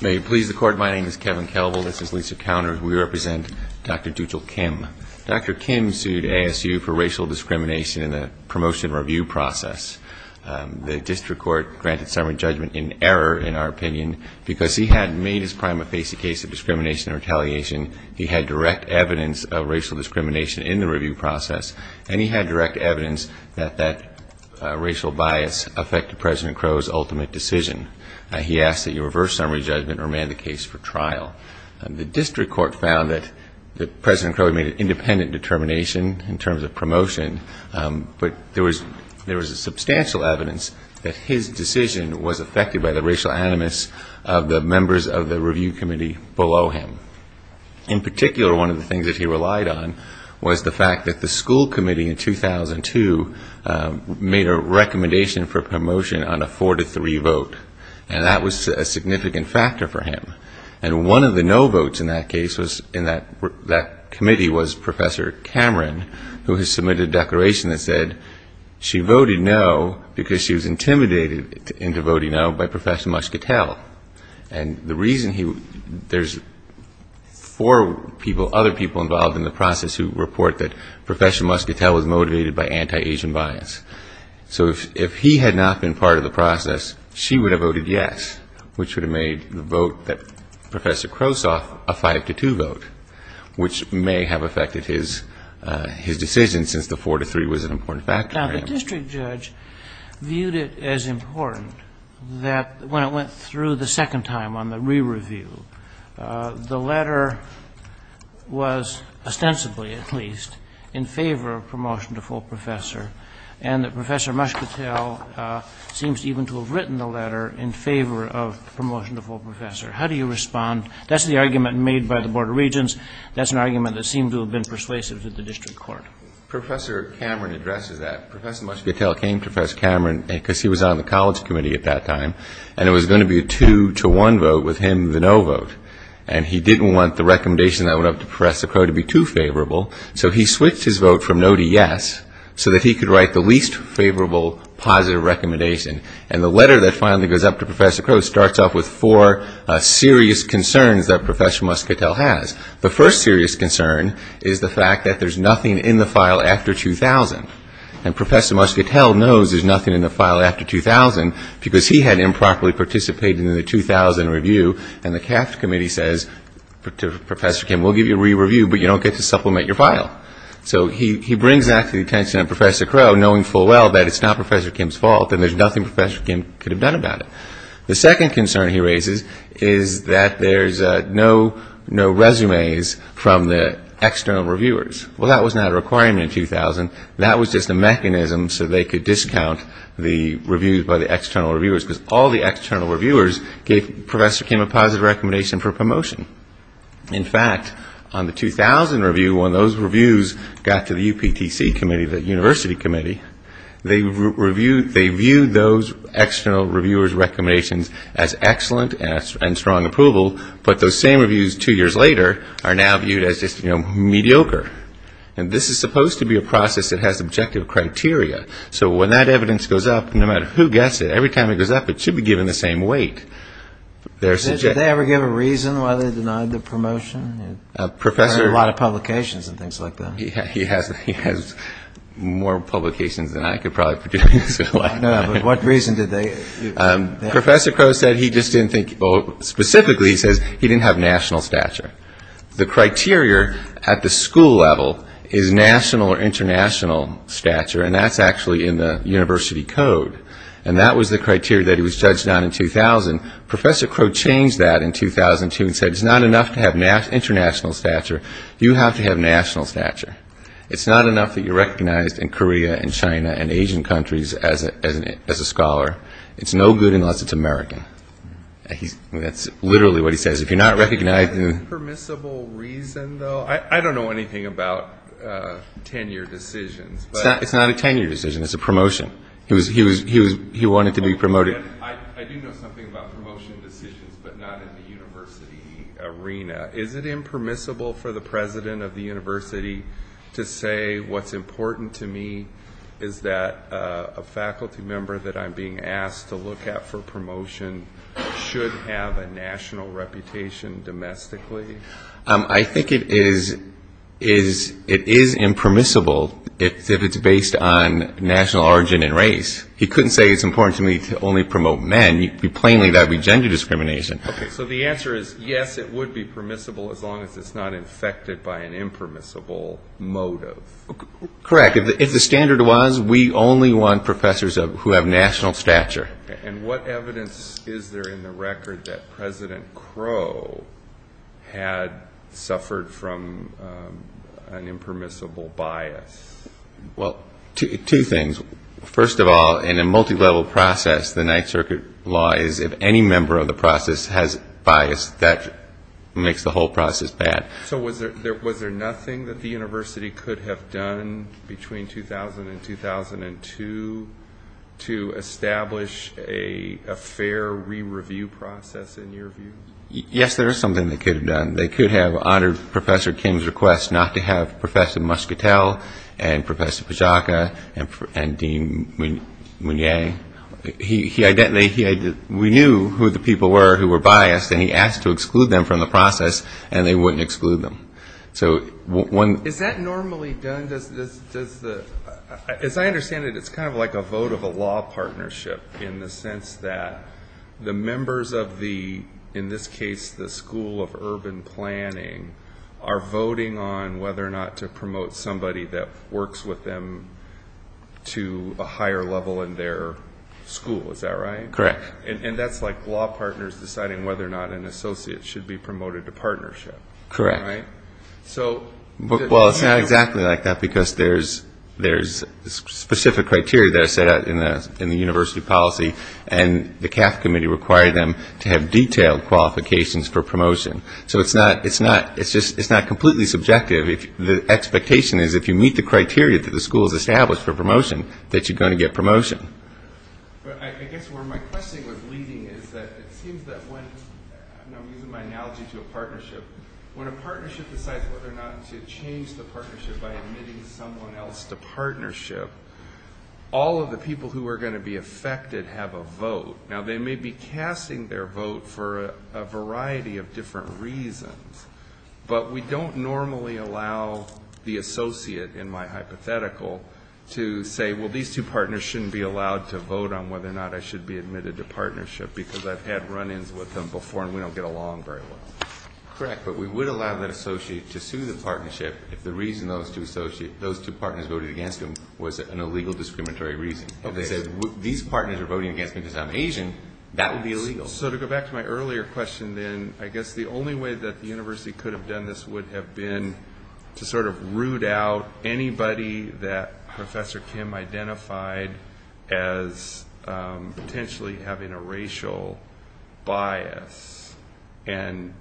May it please the Court, my name is Kevin Kalbel, this is Lisa Counter, and we represent Dr. Deutschel Kim. Dr. Kim sued ASU for racial discrimination in the promotion review process. The district court granted summary judgment in error, in our opinion, because he had made his prima facie case of discrimination and retaliation, he had direct evidence of racial bias affecting President Crow's ultimate decision. He asked that you reverse summary judgment or amend the case for trial. The district court found that President Crow made an independent determination in terms of promotion, but there was substantial evidence that his decision was affected by the racial animus of the members of the review committee below him. In particular, one of the things that he relied on was the fact that the school committee in 2002 made a recommendation for promotion on a four to three vote, and that was a significant factor for him. And one of the no votes in that case was in that committee was Professor Cameron, who had submitted a declaration that said she voted no because she was intimidated into other people involved in the process who report that Professor Muscatel was motivated by anti-Asian bias. So if he had not been part of the process, she would have voted yes, which would have made the vote that Professor Crow saw a five to two vote, which may have affected his decision since the four to three was an important factor for him. Now, the district judge viewed it as important that when it went through the second time on the re-review, the letter was ostensibly, at least, in favor of promotion to full professor, and that Professor Muscatel seems even to have written the letter in favor of promotion to full professor. How do you respond? That's the argument made by the Board of Regents. That's an argument that seemed to have been persuasive to the district court. Professor Cameron addresses that. Professor Muscatel came to Professor Cameron because he was on the college committee at that time, and it was going to be a two to one vote with him the no vote, and he didn't want the recommendation that went up to Professor Crow to be too favorable, so he switched his vote from no to yes so that he could write the least favorable positive recommendation, and the letter that finally goes up to Professor Crow starts off with four serious concerns that Professor Muscatel has. The first serious concern is the fact that there's nothing in the file after 2000, and because he had improperly participated in the 2000 review, and the CAFT committee says to Professor Kim, we'll give you a re-review, but you don't get to supplement your file. So he brings that to the attention of Professor Crow, knowing full well that it's not Professor Kim's fault, and there's nothing Professor Kim could have done about it. The second concern he raises is that there's no resumes from the external reviewers. Well, that was not a requirement in 2000, that was just a mechanism so they could discount the reviews by the external reviewers, because all the external reviewers gave Professor Kim a positive recommendation for promotion. In fact, on the 2000 review, when those reviews got to the UPTC committee, the university committee, they viewed those external reviewers' recommendations as excellent and strong approval, but those same reviews two years later are now viewed as just, you know, mediocre. And this is supposed to be a process that has objective criteria. So when that evidence goes up, no matter who gets it, every time it goes up, it should be given the same weight. They ever give a reason why they denied the promotion? There are a lot of publications and things like that. He has more publications than I could probably put together in a lifetime. What reason did they give? Professor Crow said he just didn't think, well, specifically he says he didn't have national stature. The criteria at the school level is national or international stature, and that's actually in the university code, and that was the criteria that he was judged on in 2000. Professor Crow changed that in 2002 and said it's not enough to have international stature, you have to have national stature. It's not enough that you're recognized in Korea and China and Asian countries as a scholar. It's no good unless it's American. That's literally what he says. If you're not recognized in... Is it a permissible reason, though? I don't know anything about tenure decisions. It's not a tenure decision. It's a promotion. He wanted to be promoted. I do know something about promotion decisions, but not in the university arena. Is it impermissible for the president of the university to say what's important to me is that a faculty member that I'm being asked to look at for promotion should have a national reputation domestically? I think it is impermissible if it's based on national origin and race. He couldn't say it's important to me to only promote men. Plainly, that would be gender discrimination. So the answer is yes, it would be permissible as long as it's not infected by an impermissible motive. Correct. If the standard was we only want professors who have national stature. What evidence is there in the record that President Crow had suffered from an impermissible bias? Two things. First of all, in a multi-level process, the Ninth Circuit law is if any member of the process has bias, that makes the whole process bad. So was there nothing that the university could have done between 2000 and 2002 to establish a fair re-review process in your view? Yes, there is something they could have done. They could have honored Professor Kim's request not to have Professor Muscatel and Professor Pajaka and Dean Mounier. We knew who the people were who were biased and he asked to exclude them from the process and they wouldn't exclude them. Is that normally done? As I understand it, it's kind of like a vote of a law partnership in the sense that the members of the, in this case, the School of Urban Planning, are voting on whether or not to promote somebody that works with them to a higher level in their school. Is that right? Correct. And that's like law partners deciding whether or not an associate should be promoted to partnership. Correct. Well, it's not exactly like that because there's specific criteria that are set out in the university policy and the CAF committee required them to have detailed qualifications for promotion. So it's not completely subjective. The expectation is if you meet the criteria that the school has established for promotion, that you're going to get promotion. But I guess where my question was leading is that it seems that when, and I'm using my analogy to a partnership, when a partnership decides whether or not to change the partnership by admitting someone else to partnership, all of the people who are going to be affected have a vote. Now, they may be casting their vote for a variety of different reasons, but we don't normally allow the associate, in my hypothetical, to say, well, these two partners shouldn't be allowed to vote on whether or not I should be admitted to partnership because I've had run-ins with them before and we don't get along very well. Correct. But we would allow that associate to sue the partnership if the reason those two partners voted against him was an illegal discriminatory reason. If they said, these partners are voting against me because I'm Asian, that would be illegal. So to go back to my earlier question then, I guess the only way that the university could have done this would have been to sort of root out anybody that Professor Kim identified as potentially having a racial bias and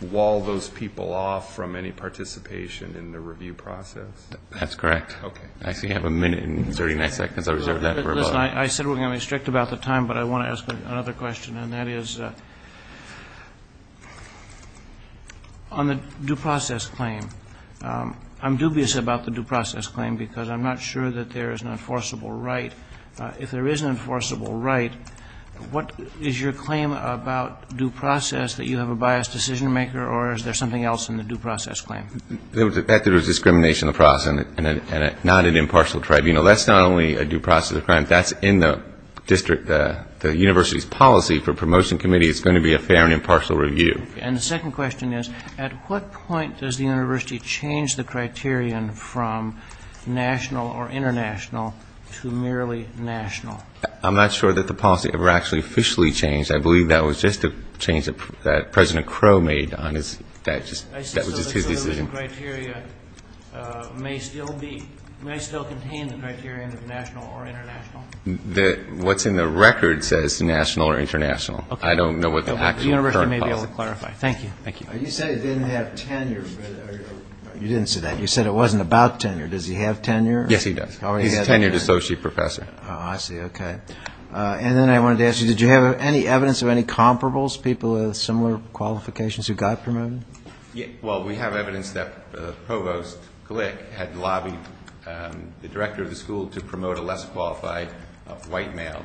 wall those people off from any participation in the review process. That's correct. Actually, you have a minute and 39 seconds. I reserved that for Bob. Listen, I said we're going to be strict about the time, but I want to ask another question and that is, on the due process claim, I'm dubious about the due process claim because I'm not sure that there is an enforceable right. If there is an enforceable right, what is your claim about due process that you have a biased decision-maker or is there something else in the due process claim? The fact that there is discrimination in the process and not an impartial tribunal, that's not only a due process claim, that's in the district, the university's policy for promotion committee is going to be a fair and impartial review. And the second question is, at what point does the university change the criterion from national or international to merely national? I'm not sure that the policy ever actually officially changed. I believe that was just a change that President Crow made on his, that was just his decision. So the inclusion criteria may still contain the criterion of national or international? What's in the record says national or international. I don't know what the actual current policy is. The university may be able to clarify. Thank you. You said he didn't have tenure. You didn't say that. You said it wasn't about tenure. Does he have tenure? Yes, he does. He's a tenured associate professor. I see. Okay. And then I wanted to ask you, did you have any evidence of any comparables, people with similar qualifications who got promoted? Well, we have evidence that Provost Glick had lobbied the director of the school to promote a less qualified white male,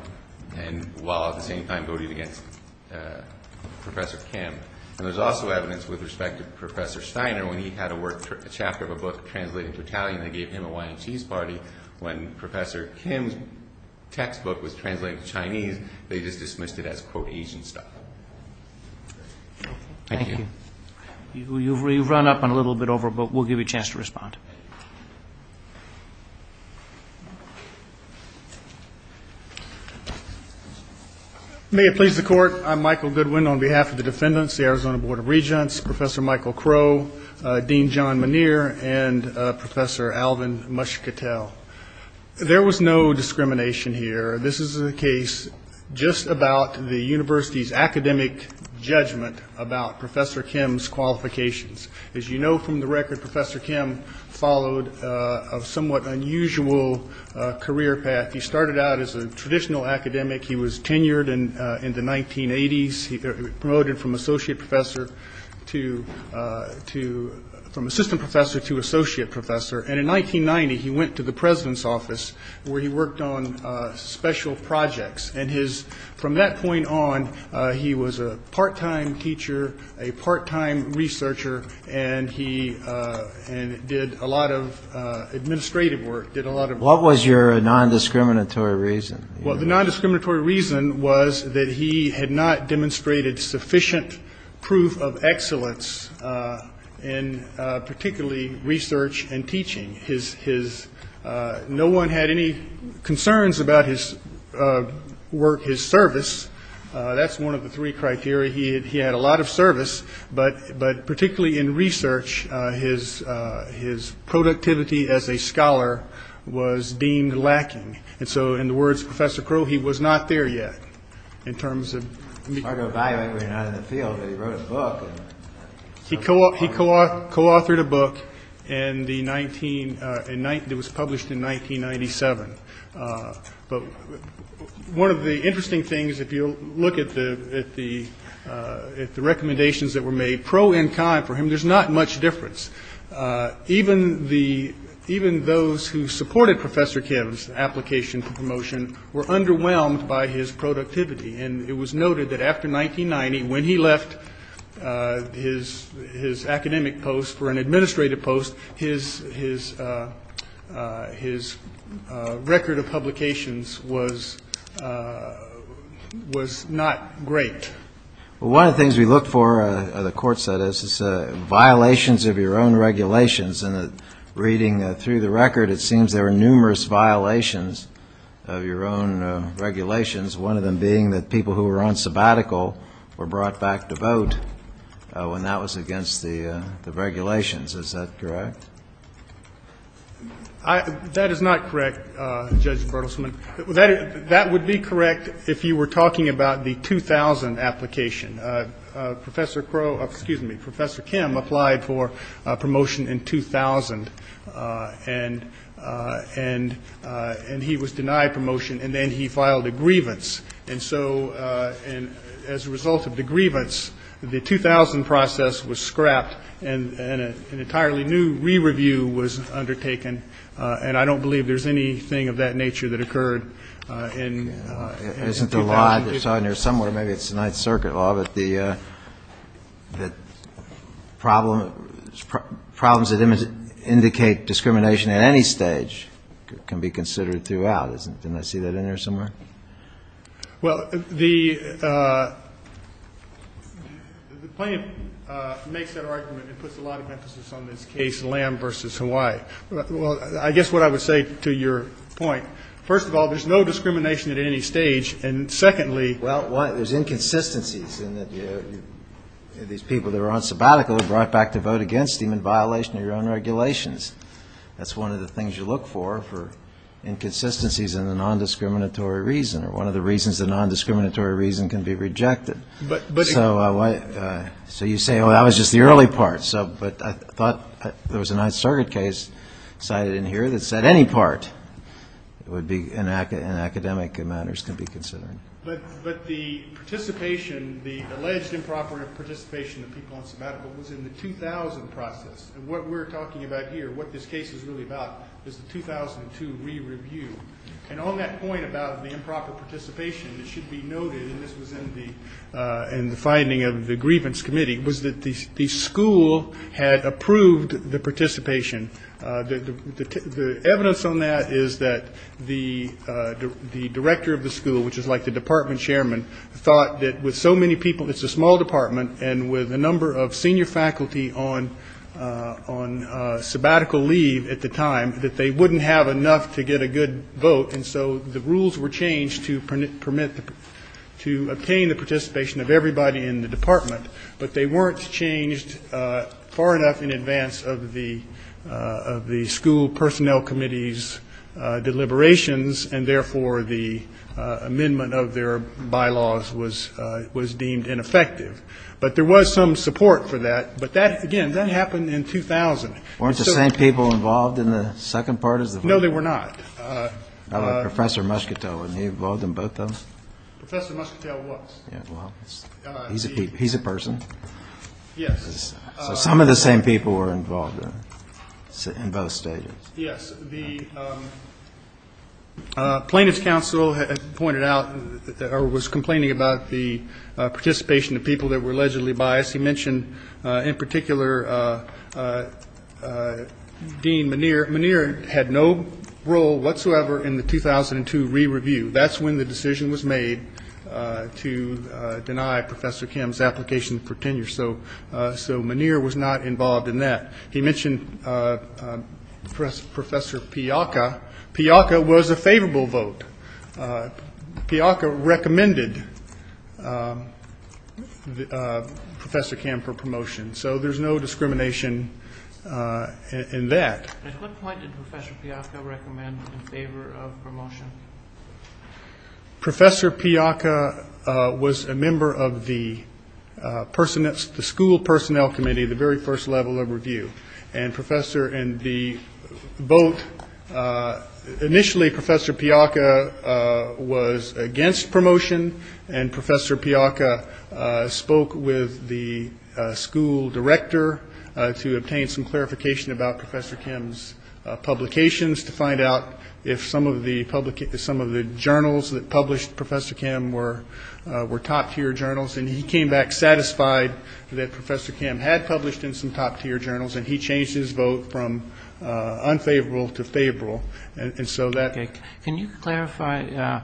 and while at the same time voting against Professor Kim. And there's also evidence with respect to Professor Steiner, when he had a chapter of a book translated to Italian, they gave him a wine and cheese party. When Professor Kim's textbook was translated to Chinese, they just dismissed it as, quote, Asian stuff. Thank you. You've run up on a little bit over, but we'll give you a chance to respond. May it please the court, I'm Michael Goodwin on behalf of the defendants, the Arizona Board of Regents, Professor Michael Crow, Dean John Muneer, and Professor Alvin Muscatel. There was no discrimination here. This is a case just about the university's academic judgment about Professor Kim's qualifications. As you know from the record, Professor Kim followed a somewhat unusual career path. He started out as a traditional academic. He was tenured in the 1980s. He promoted from associate professor to, from assistant professor to associate professor. And in 1990, he went to the president's office, where he worked on special projects. And his, from that point on, he was a part-time teacher, a part-time researcher, and he did a lot of administrative work, did a lot of research. What was your nondiscriminatory reason? Well, the nondiscriminatory reason was that he had not demonstrated sufficient proof of excellence in particularly research and teaching. His, his, no one had any concerns about his work, his service. That's one of the three criteria. He had, he had a lot of service, but, but particularly in research, his, his productivity as a scholar was deemed lacking. And so, in the words of Professor Crow, he was not there yet, in terms of... He wrote a book. He co-authored a book in the 19, it was published in 1997. But one of the interesting things, if you look at the, at the, at the recommendations that were made pro and con for him, there's not much difference. Even the, even those who supported Professor Kim's application for promotion were underwhelmed by his productivity. And it was noted that after 1990, when he left his, his academic post for an administrative post, his, his, his record of publications was, was not great. One of the things we looked for, the court said, is violations of your own regulations. And reading through the record, it seems there were numerous violations of your own regulations, one of them being that people who were on sabbatical were brought back to vote, when that was against the, the regulations. Is that correct? That is not correct, Judge Bertelsman. That, that would be correct if you were talking about the 2000 application. Professor Crow, excuse me, Professor Kim applied for promotion in 2000, and, and, and he was denied promotion, and then he filed a grievance. And so, and as a result of the grievance, the 2000 process was scrapped, and, and an entirely new re-review was undertaken. And I don't believe there's anything of that nature that occurred in, in 2000. Isn't the law that's on there somewhere, maybe it's Ninth Circuit law, that the, that problem, problems that indicate discrimination at any stage can be considered throughout. Isn't, didn't I see that in there somewhere? Well, the, the plaintiff makes that argument and puts a lot of emphasis on this case, Lamb v. Hawaii. Well, I guess what I would say to your point, first of all, there's no discrimination at any stage, and secondly, Well, there's inconsistencies in that you, these people that are on sabbatical are brought back to vote against him in violation of your own regulations. That's one of the things you look for, for inconsistencies in the non-discriminatory reason, or one of the reasons the non-discriminatory reason can be rejected. But, but So, so you say, oh, that was just the early part. So, but I thought there was a Ninth Circuit case cited in here that said any part would be, in academic, in academic matters can be considered. But, but the participation, the alleged improper participation of people on sabbatical was in the 2000 process. And what we're talking about here, what this case is really about, is the 2002 re-review. And on that point about the improper participation, it should be noted, and this was in the, in the finding of the grievance committee, was that the school had approved the participation. The, the, the evidence on that is that the, the director of the school, which is like the department chairman, thought that with so many people, it's a small department, and with a number of senior faculty on, on sabbatical leave at the time, that they wouldn't have enough to get a good vote. And so the rules were changed to permit, to obtain the participation of everybody in the department. But they weren't changed far enough in advance of the, of the school personnel committee's deliberations, and therefore the amendment of their bylaws was, was deemed ineffective. But there was some support for that. But that, again, that happened in 2000. Weren't the same people involved in the second part of the vote? No, they were not. How about Professor Muscatel? Were they involved in both of them? Professor Muscatel was. Yeah, well, he's a, he's a person. Yes. So some of the same people were involved in, in both stages. Yes. The Plaintiffs' Council had pointed out, or was complaining about the participation of people that were allegedly biased. He mentioned, in particular, Dean Muneer. Muneer had no role whatsoever in the 2002 re-review. That's when the decision was made to deny Professor Kim's application for tenure. So, so Muneer was not involved in that. He mentioned Professor Piakka. Piakka was a favorable vote. Piakka recommended Professor Kim for promotion. So there's no discrimination in that. At what point did Professor Piakka recommend in favor of promotion? Professor Piakka was a member of the school personnel committee, the very first level of review. And the vote, initially Professor Piakka was against promotion. And Professor Piakka spoke with the school director to obtain some clarification about Professor Kim's publications to find out if some of the journals that published Professor Kim were top-tier journals. And he came back satisfied that Professor Kim had published in some top-tier journals, and he changed his vote from unfavorable to favorable. And so that – Can you clarify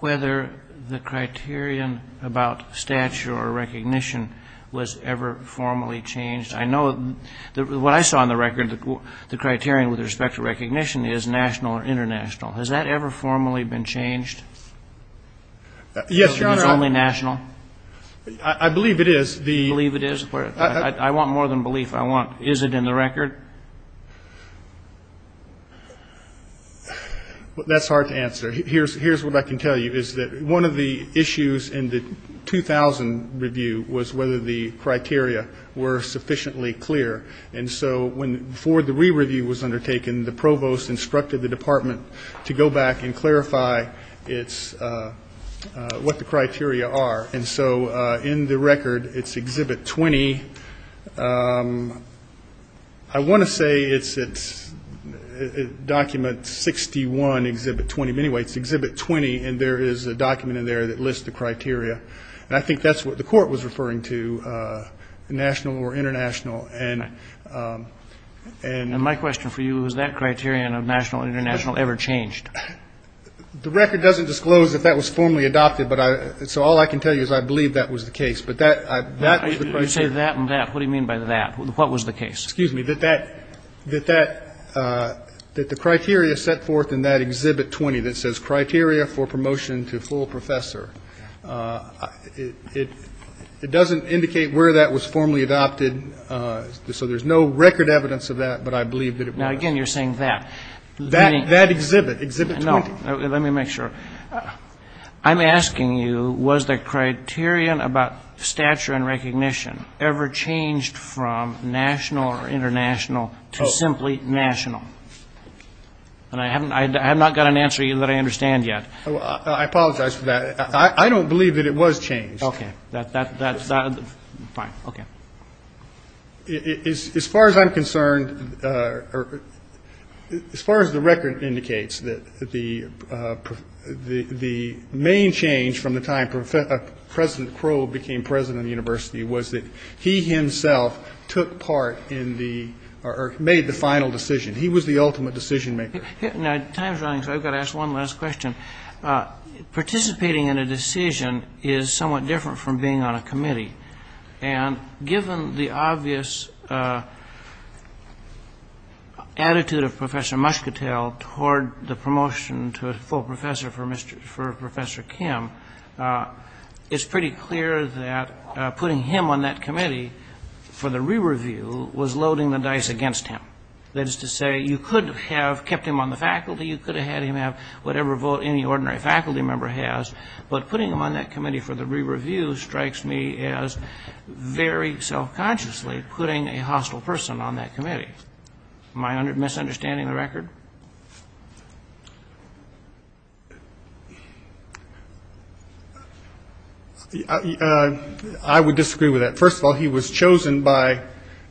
whether the criterion about stature or recognition was ever formally changed? I know what I saw on the record, the criterion with respect to recognition, is national or international. Has that ever formally been changed? Yes, Your Honor. Is it only national? I believe it is. You believe it is? I want more than belief. I want, is it in the record? That's hard to answer. Here's what I can tell you is that one of the issues in the 2000 review was whether the criteria were sufficiently clear. And so before the re-review was undertaken, the provost instructed the department to go back and clarify what the criteria are. And so in the record, it's Exhibit 20. I want to say it's Document 61, Exhibit 20. But anyway, it's Exhibit 20, and there is a document in there that lists the criteria. And I think that's what the court was referring to, national or international. And my question for you, has that criterion of national or international ever changed? The record doesn't disclose that that was formally adopted. So all I can tell you is I believe that was the case. You say that and that. What do you mean by that? What was the case? Excuse me, that the criteria set forth in that Exhibit 20 that says, Criteria for Promotion to Full Professor, it doesn't indicate where that was formally adopted. So there's no record evidence of that, but I believe that it was. Now, again, you're saying that. That exhibit, Exhibit 20. No, let me make sure. I'm asking you, was the criterion about stature and recognition ever changed from national or international to simply national? And I have not got an answer that I understand yet. I apologize for that. I don't believe that it was changed. Okay. That's fine. Okay. As far as I'm concerned, as far as the record indicates, the main change from the time President Crowe became president of the university was that he himself took part in the or made the final decision. He was the ultimate decision maker. Time is running, so I've got to ask one last question. Participating in a decision is somewhat different from being on a committee. And given the obvious attitude of Professor Muscatel toward the promotion to a full professor for Professor Kim, it's pretty clear that putting him on that committee for the re-review was loading the dice against him. That is to say, you could have kept him on the faculty. You could have had him have whatever vote any ordinary faculty member has. But putting him on that committee for the re-review strikes me as very self-consciously putting a hostile person on that committee. Am I misunderstanding the record? I would disagree with that. First of all, he was chosen by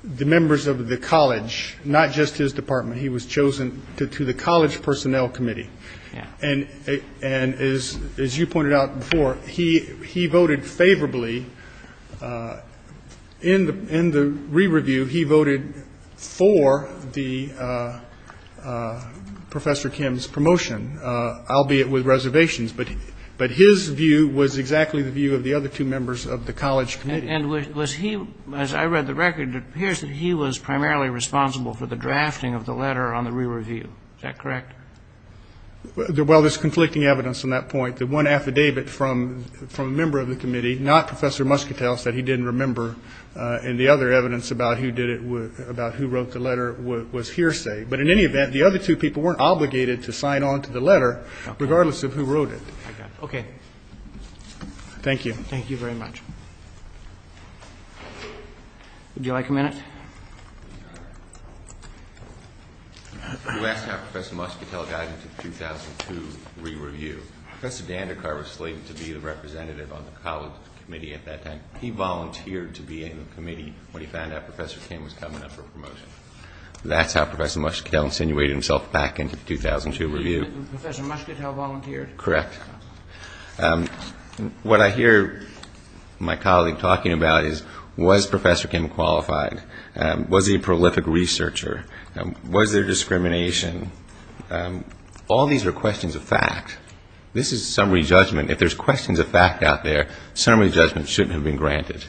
the members of the college, not just his department. He was chosen to the college personnel committee. And as you pointed out before, he voted favorably in the re-review. He voted for Professor Kim's promotion, albeit with reservations. But his view was exactly the view of the other two members of the college committee. And was he, as I read the record, it appears that he was primarily responsible for the drafting of the letter on the re-review. Is that correct? Well, there's conflicting evidence on that point. The one affidavit from a member of the committee, not Professor Muscatel, said he didn't remember. And the other evidence about who wrote the letter was hearsay. But in any event, the other two people weren't obligated to sign on to the letter, regardless of who wrote it. Okay. Thank you very much. Would you like a minute? You asked how Professor Muscatel got into the 2002 re-review. Professor Dandekar was slated to be the representative on the college committee at that time. He volunteered to be in the committee when he found out Professor Kim was coming up for promotion. That's how Professor Muscatel insinuated himself back into the 2002 review. Professor Muscatel volunteered? Correct. What I hear my colleague talking about is, was Professor Kim qualified? Was he a prolific researcher? Was there discrimination? All these are questions of fact. This is summary judgment. If there's questions of fact out there, summary judgment shouldn't have been granted.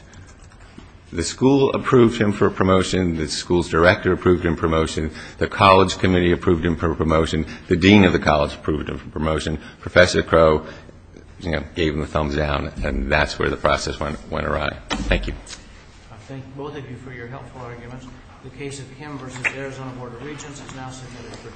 The school approved him for promotion. The school's director approved him for promotion. The dean of the college approved him for promotion. Professor Crow gave him a thumbs down, and that's where the process went awry. Thank you. I thank both of you for your helpful arguments. The case of Kim v. Arizona Board of Regents is now submitted for discussion.